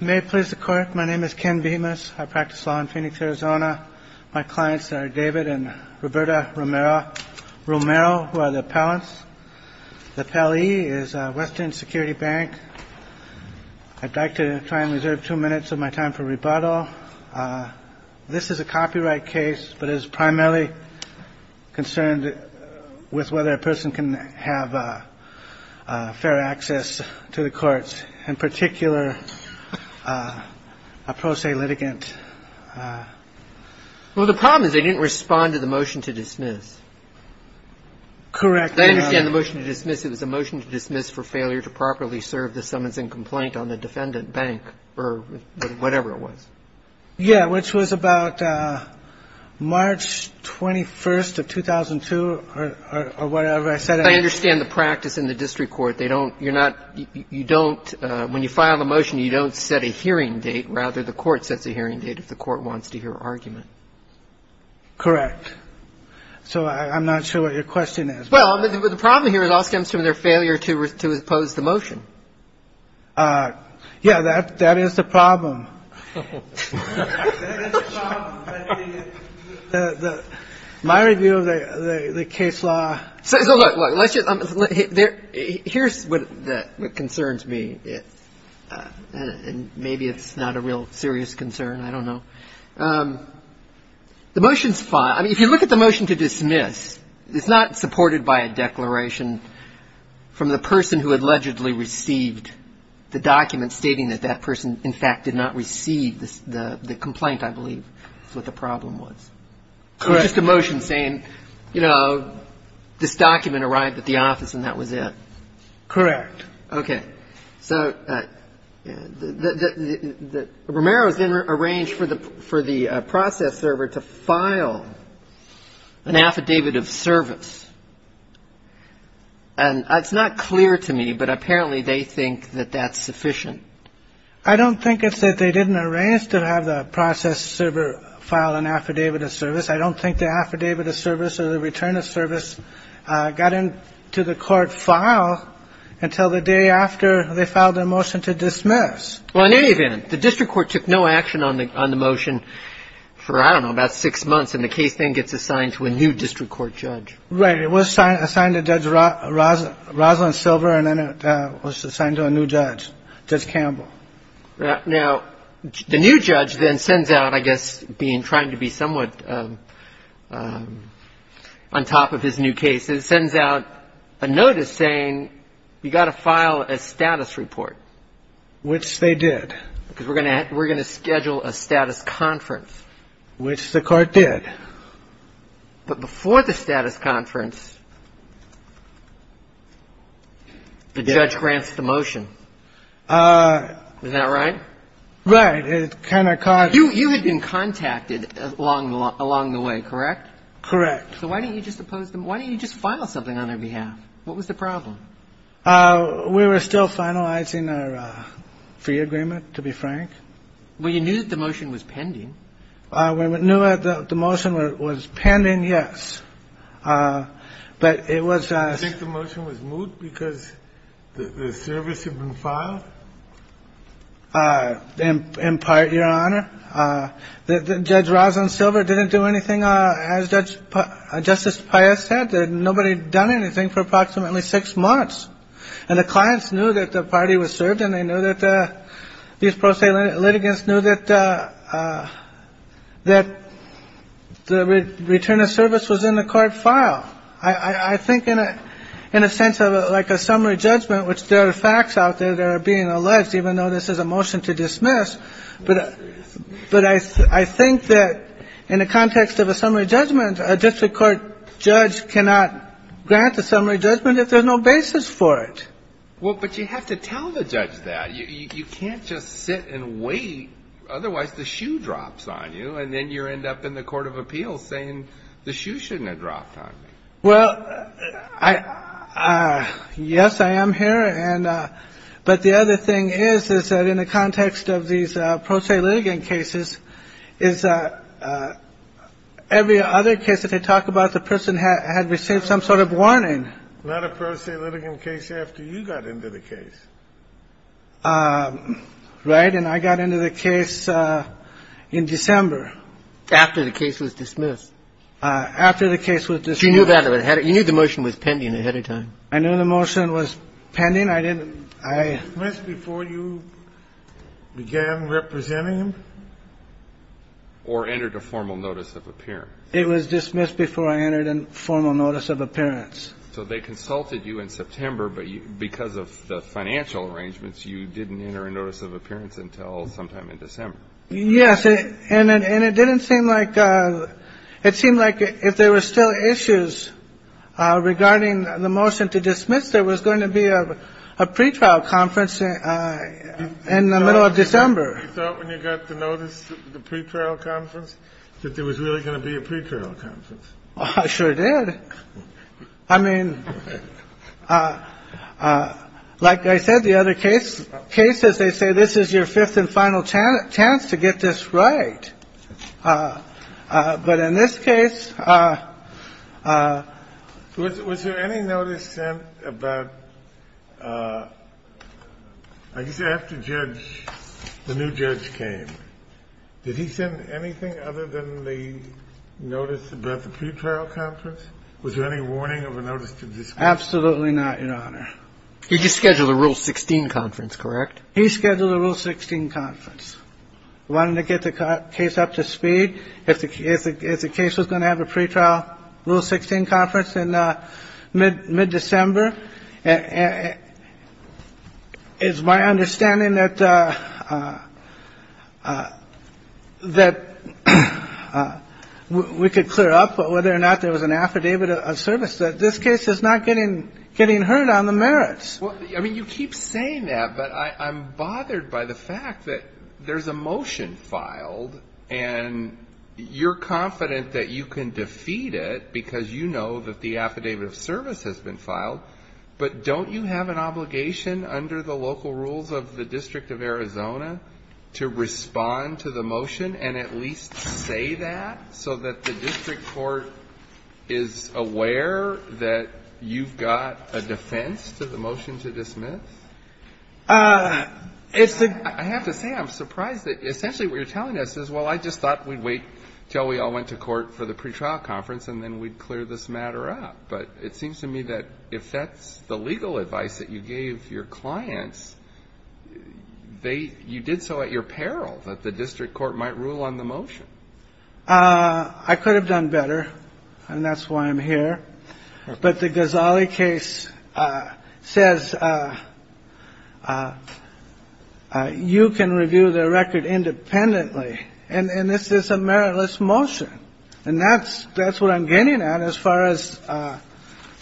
May it please the Court, my name is Ken Bemis. I practice law in Phoenix, Arizona. My clients are David and Roberta Romero, who are the appellants. The appellee is Western Security Bank. I'd like to try and reserve two minutes of my time for rebuttal. This is a copyright case, but it is primarily concerned with whether a person can have fair access to the courts, in particular a pro se litigant. Well, the problem is they didn't respond to the motion to dismiss. Correct. I understand the motion to dismiss. It was a motion to dismiss for failure to properly serve the summons and complaint on the defendant bank or whatever it was. Yeah, which was about March 21st of 2002 or whatever. I said I understand the practice in the district court. They don't you're not you don't when you file a motion, you don't set a hearing date. Rather, the court sets a hearing date if the court wants to hear argument. Correct. So I'm not sure what your question is. Well, the problem here, it all stems from their failure to oppose the motion. Yeah, that that is the problem. My review of the case law. So here's what concerns me, and maybe it's not a real serious concern. I don't know. The motion's fine. I mean, if you look at the motion to dismiss, it's not supported by a declaration from the person who allegedly received the document stating that that person, in fact, did not receive the complaint. I believe that the problem was just a motion saying, you know, this document arrived at the office and that was it. Correct. Okay. So the Romero's then arranged for the for the process server to file an affidavit of service. And it's not clear to me, but apparently they think that that's sufficient. I don't think it's that they didn't arrange to have the process server file an affidavit of service. I don't think the affidavit of service or the return of service got into the court file until the day after they filed a motion to dismiss. Well, in any event, the district court took no action on the on the motion for, I don't know, about six months. And the case then gets assigned to a new district court judge. Right. It was assigned to Judge Rosalyn Silver. And then it was assigned to a new judge, Judge Campbell. Now, the new judge then sends out, I guess, being trying to be somewhat on top of his new case. It sends out a notice saying you got to file a status report, which they did because we're going to we're going to schedule a status conference, which the court did. But before the status conference, the judge grants the motion. Is that right? Right. It kind of caught. You had been contacted along the way, correct? Correct. So why didn't you just oppose them? Why didn't you just file something on their behalf? What was the problem? We were still finalizing our free agreement, to be frank. Well, you knew that the motion was pending. We knew that the motion was pending. Yes. But it was I think the motion was moved because the service had been filed. In part, Your Honor, Judge Rosalyn Silver didn't do anything. As Judge Justice Pius said, nobody done anything for approximately six months. And the clients knew that the party was served and they knew that these pro se litigants knew that that the return of service was in the court file. I think in a in a sense of like a summary judgment, which there are facts out there that are being alleged, even though this is a motion to dismiss. But but I think that in the context of a summary judgment, a district court judge cannot grant a summary judgment if there's no basis for it. Well, but you have to tell the judge that you can't just sit and wait. Otherwise, the shoe drops on you and then you end up in the court of appeals saying the shoe shouldn't have dropped on me. Well, I. Yes, I am here. And but the other thing is, is that in the context of these pro se litigant cases is every other case that they talk about, the person had received some sort of warning. Not a pro se litigant case after you got into the case. Right. And I got into the case in December after the case was dismissed. After the case was dismissed. You knew that you knew the motion was pending ahead of time. I knew the motion was pending. I didn't. I missed before you began representing him. Or entered a formal notice of appearance, it was dismissed before I entered a formal notice of appearance, so they consulted you in September. But because of the financial arrangements, you didn't enter a notice of appearance until sometime in December. Yes. And it didn't seem like it seemed like if there were still issues regarding the motion to dismiss, there was going to be a pretrial conference in the middle of December. So when you got the notice, the pretrial conference, that there was really going to be a pretrial conference. I sure did. I mean, like I said, the other case cases, they say this is your fifth and final chance to get this right. But in this case, was there any notice sent about. I used to have to judge the new judge came. Did he send anything other than the notice about the pretrial conference? Was there any warning of a notice? Absolutely not. In honor. He just scheduled a rule 16 conference. That's correct. He scheduled a rule 16 conference, wanting to get the case up to speed. If the case was going to have a pretrial rule 16 conference in mid-December. It's my understanding that we could clear up whether or not there was an affidavit of service that this case is not getting heard on the merits. Well, I mean, you keep saying that, but I'm bothered by the fact that there's a motion filed and you're confident that you can defeat it because you know that the affidavit of service has been filed. But don't you have an obligation under the local rules of the District of Arizona to respond to the motion and at least say that so that the district court is aware that you've got a defense to the motion to dismiss? I have to say, I'm surprised that essentially what you're telling us is, well, I just thought we'd wait till we all went to court for the pretrial conference and then we'd clear this matter up. But it seems to me that if that's the legal advice that you gave your clients, you did so at your peril that the district court might rule on the motion. I could have done better, and that's why I'm here. But the Ghazali case says you can review the record independently, and this is a meritless motion. And that's what I'm getting at as far as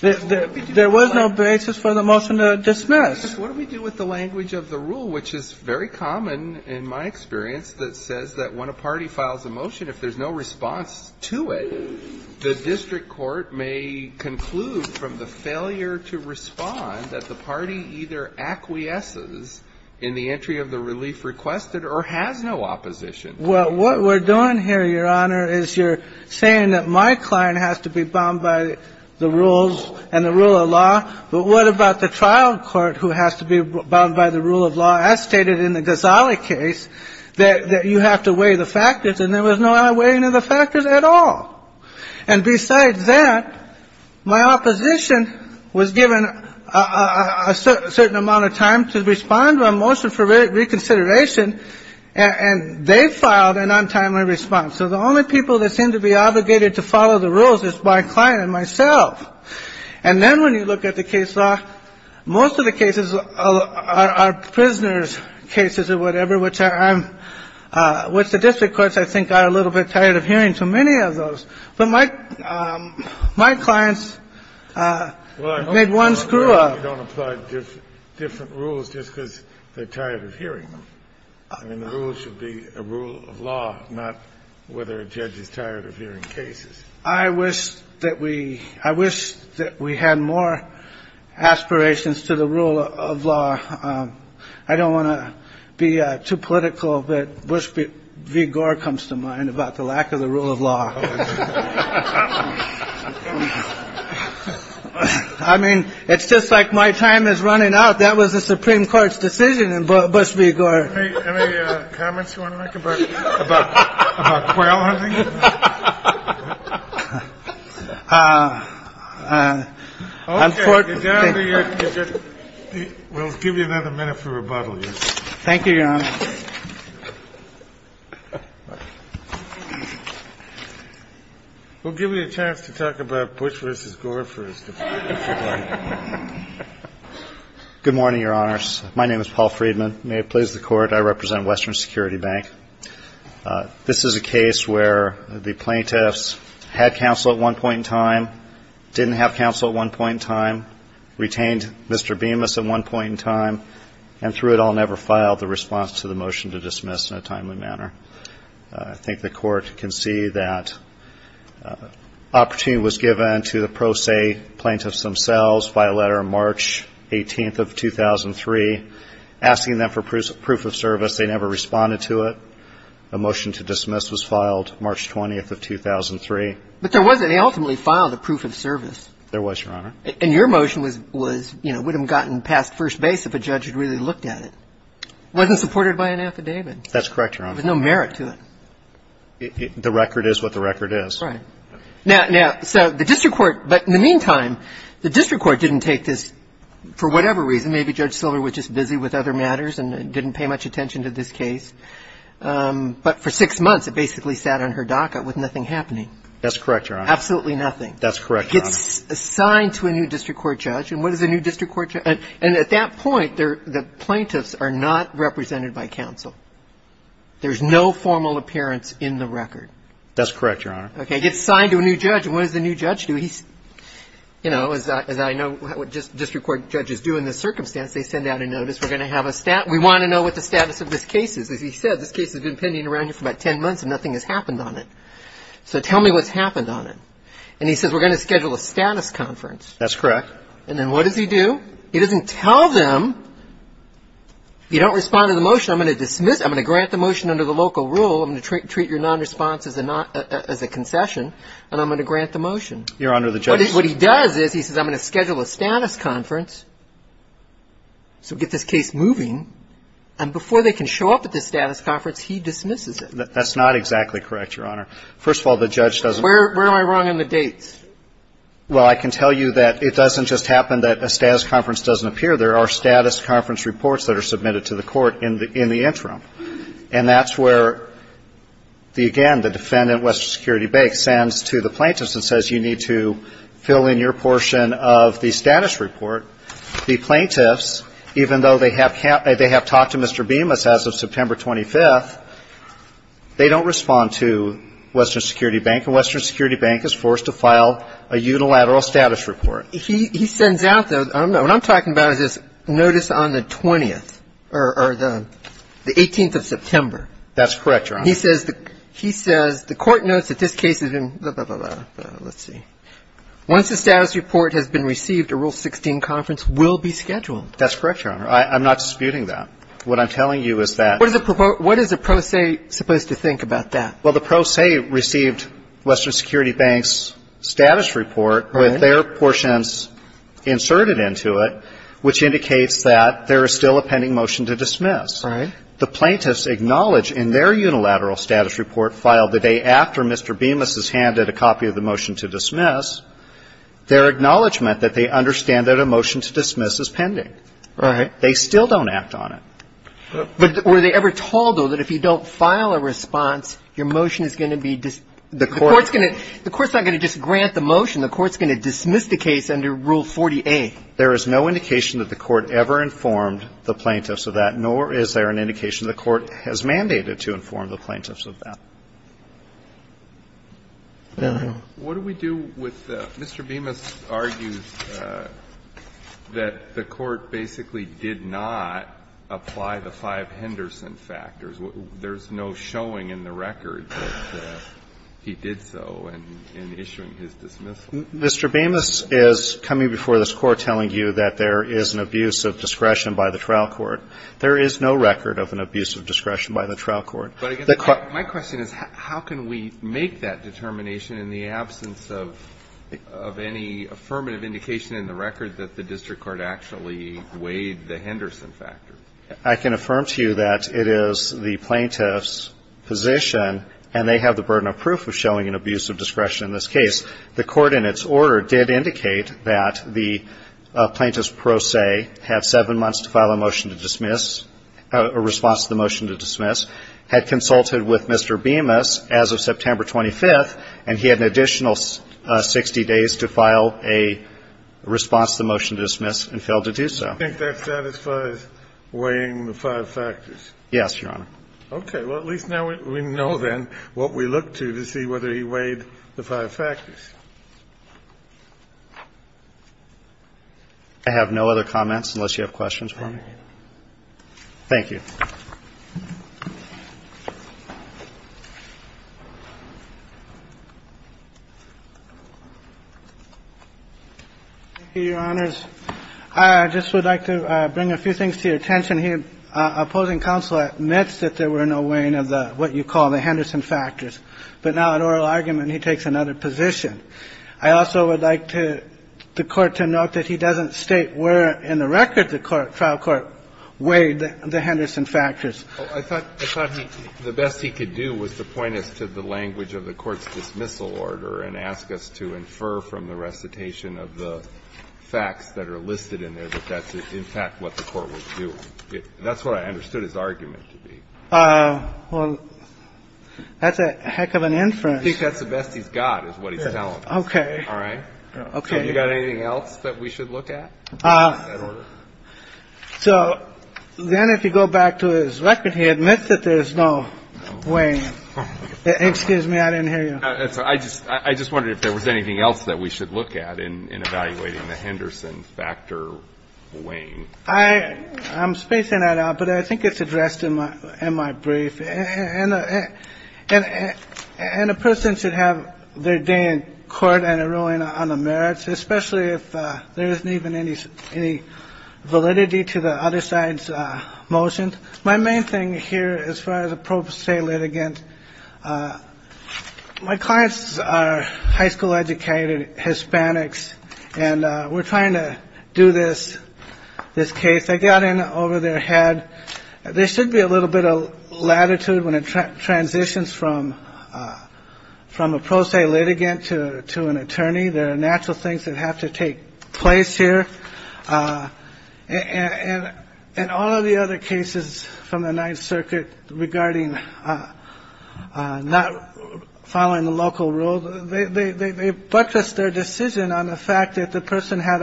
there was no basis for the motion to dismiss. What do we do with the language of the rule, which is very common in my experience, that says that when a party files a motion, if there's no response to it, the district court may conclude from the failure to respond that the party either acquiesces in the entry of the relief requested or has no opposition. Well, what we're doing here, Your Honor, is you're saying that my client has to be bound by the rules and the rule of law. But what about the trial court who has to be bound by the rule of law, as stated in the Ghazali case, that you have to weigh the factors and there was no weighing of the factors at all? And besides that, my opposition was given a certain amount of time to respond to a motion for reconsideration, and they filed an untimely response. So the only people that seem to be obligated to follow the rules is my client and myself. And then when you look at the case law, most of the cases are prisoners' cases or whatever, which the district courts, I think, are a little bit tired of hearing so many of those. But my client's made one screw up. Well, I hope you don't apply different rules just because they're tired of hearing them. I mean, the rules should be a rule of law, not whether a judge is tired of hearing cases. I wish that we I wish that we had more aspirations to the rule of law. I don't want to be too political, but Bush v. Gore comes to mind about the lack of the rule of law. I mean, it's just like my time is running out. That was the Supreme Court's decision. And Bush v. Gore. Any comments you want to make about quail hunting? Unfortunately, we'll give you another minute for rebuttal. Thank you, Your Honor. We'll give you a chance to talk about Bush versus Gore first. Good morning, Your Honors. My name is Paul Friedman. May it please the Court, I represent Western Security Bank. This is a case where the plaintiffs had counsel at one point in time, didn't have counsel at one point in time, retained Mr. Bemis at one point in time, and through it all, never filed the response to the motion to dismiss in a timely manner. I think the Court can see that opportunity was given to the pro se plaintiffs themselves by a letter March 18th of 2003, asking them for proof of service. They never responded to it. The motion to dismiss was filed March 20th of 2003. But there wasn't. They ultimately filed a proof of service. There was, Your Honor. And your motion was, you know, would have gotten past first base if a judge had really looked at it. It wasn't supported by an affidavit. That's correct, Your Honor. There was no merit to it. The record is what the record is. Right. Now, so the district court, but in the meantime, the district court didn't take this for whatever reason. Maybe Judge Silver was just busy with other matters and didn't pay much attention to this case. But for six months, it basically sat on her docket with nothing happening. That's correct, Your Honor. Absolutely nothing. That's correct, Your Honor. It gets assigned to a new district court judge. And what does a new district court judge do? And at that point, the plaintiffs are not represented by counsel. There's no formal appearance in the record. That's correct, Your Honor. Okay. It gets assigned to a new judge. And what does the new judge do? He's, you know, as I know what district court judges do in this circumstance, they send out a notice. We're going to have a stat. We want to know what the status of this case is. As he said, this case has been pending around here for about ten months and nothing has happened on it. So tell me what's happened on it. And he says we're going to schedule a status conference. That's correct. And then what does he do? He doesn't tell them. If you don't respond to the motion, I'm going to dismiss it. I'm going to grant the motion under the local rule. I'm going to treat your nonresponse as a concession, and I'm going to grant the motion. Your Honor, the judge. What he does is he says I'm going to schedule a status conference. So get this case moving. And before they can show up at the status conference, he dismisses it. That's not exactly correct, Your Honor. First of all, the judge doesn't. Where am I wrong on the dates? Well, I can tell you that it doesn't just happen that a status conference doesn't appear. There are status conference reports that are submitted to the court in the interim. And that's where, again, the defendant, Western Security Bank, sends to the plaintiffs and says you need to fill in your portion of the status report. The plaintiffs, even though they have talked to Mr. Bemis as of September 25th, they don't respond to Western Security Bank. And Western Security Bank is forced to file a unilateral status report. He sends out, though, what I'm talking about is this notice on the 20th or the 18th of September. That's correct, Your Honor. He says the court notes that this case has been blah, blah, blah, blah. Let's see. Once the status report has been received, a Rule 16 conference will be scheduled. That's correct, Your Honor. I'm not disputing that. What I'm telling you is that. What is a pro se supposed to think about that? Well, the pro se received Western Security Bank's status report with their portions inserted into it, which indicates that there is still a pending motion to dismiss. Right. The plaintiffs acknowledge in their unilateral status report filed the day after Mr. Bemis is handed a copy of the motion to dismiss, their acknowledgment that they understand that a motion to dismiss is pending. Right. They still don't act on it. But were they ever told, though, that if you don't file a response, your motion is going to be dismissed? The court's going to. The court's not going to just grant the motion. The court's going to dismiss the case under Rule 48. There is no indication that the court ever informed the plaintiffs of that, nor is there an indication the court has mandated to inform the plaintiffs of that. What do we do with the Mr. Bemis argues that the court basically did not apply the five Henderson factors? There's no showing in the record that he did so in issuing his dismissal. Mr. Bemis is coming before this Court telling you that there is an abuse of discretion by the trial court. There is no record of an abuse of discretion by the trial court. But I guess my question is how can we make that determination in the absence of any affirmative indication in the record that the district court actually weighed the Henderson factor? I can affirm to you that it is the plaintiff's position, and they have the burden of proof of showing an abuse of discretion in this case. The court in its order did indicate that the plaintiff's pro se had seven months to file a motion to dismiss, a response to the motion to dismiss, had consulted with Mr. Bemis as of September 25th, and he had an additional 60 days to file a response to the motion to dismiss and failed to do so. I think that satisfies weighing the five factors. Yes, Your Honor. Okay. Well, at least now we know then what we look to to see whether he weighed the five factors. I have no other comments unless you have questions for me. Thank you. Thank you, Your Honors. I just would like to bring a few things to your attention here. Opposing counsel admits that there were no weighing of what you call the Henderson factors. But now in oral argument, he takes another position. I also would like to the Court to note that he doesn't state where in the record the trial court weighed the Henderson factors. I thought the best he could do was to point us to the language of the court's dismissal order and ask us to infer from the recitation of the facts that are listed in there that that's, in fact, what the court was doing. That's what I understood his argument to be. Well, that's a heck of an inference. I think that's the best he's got is what he's telling us. Okay. All right. Okay. You got anything else that we should look at? So then if you go back to his record, he admits that there's no weighing. Excuse me. I didn't hear you. I just wondered if there was anything else that we should look at in evaluating the Henderson factor weighing. I'm spacing that out, but I think it's addressed in my brief. And a person should have their day in court and a ruling on the merits, especially if there isn't even any validity to the other side's motions. My main thing here, as far as a pro se litigant, my clients are high school educated Hispanics, and we're trying to do this, this case. I got in over their head. There should be a little bit of latitude when it transitions from from a pro se litigant to to an attorney. There are natural things that have to take place here. And in all of the other cases from the Ninth Circuit regarding not following the local rules, but just their decision on the fact that the person had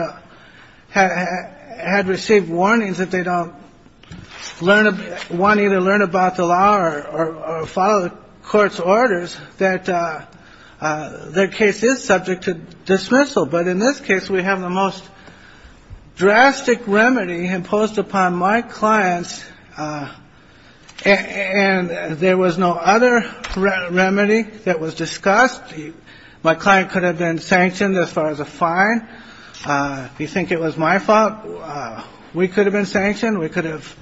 had received warnings that they don't learn. One either learn about the law or follow the court's orders that their case is subject to dismissal. But in this case, we have the most drastic remedy imposed upon my clients. And there was no other remedy that was discussed. My client could have been sanctioned as far as a fine. If you think it was my fault, we could have been sanctioned. We could have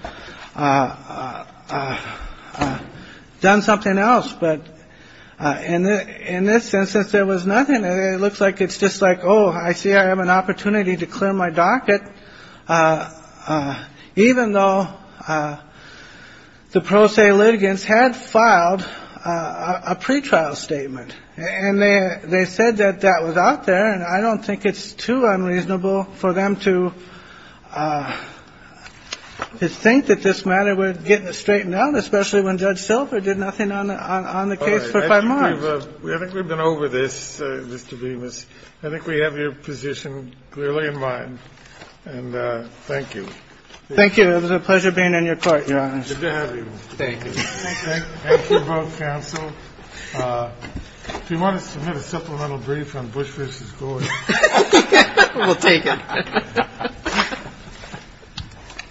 done something else. But in this instance, there was nothing. It looks like it's just like, oh, I see. I have an opportunity to clear my docket, even though the pro se litigants had filed a pretrial statement. And they said that that was out there. And I don't think it's too unreasonable for them to think that this matter would get straightened out, especially when Judge Silver did nothing on the case for five months. I think we've been over this. Mr. Bemis, I think we have your position clearly in mind. And thank you. Thank you. It was a pleasure being in your court, Your Honor. Good to have you. Thank you. Thank you both, counsel. If you want to submit a supplemental brief on Bush v. Gore. We'll take it.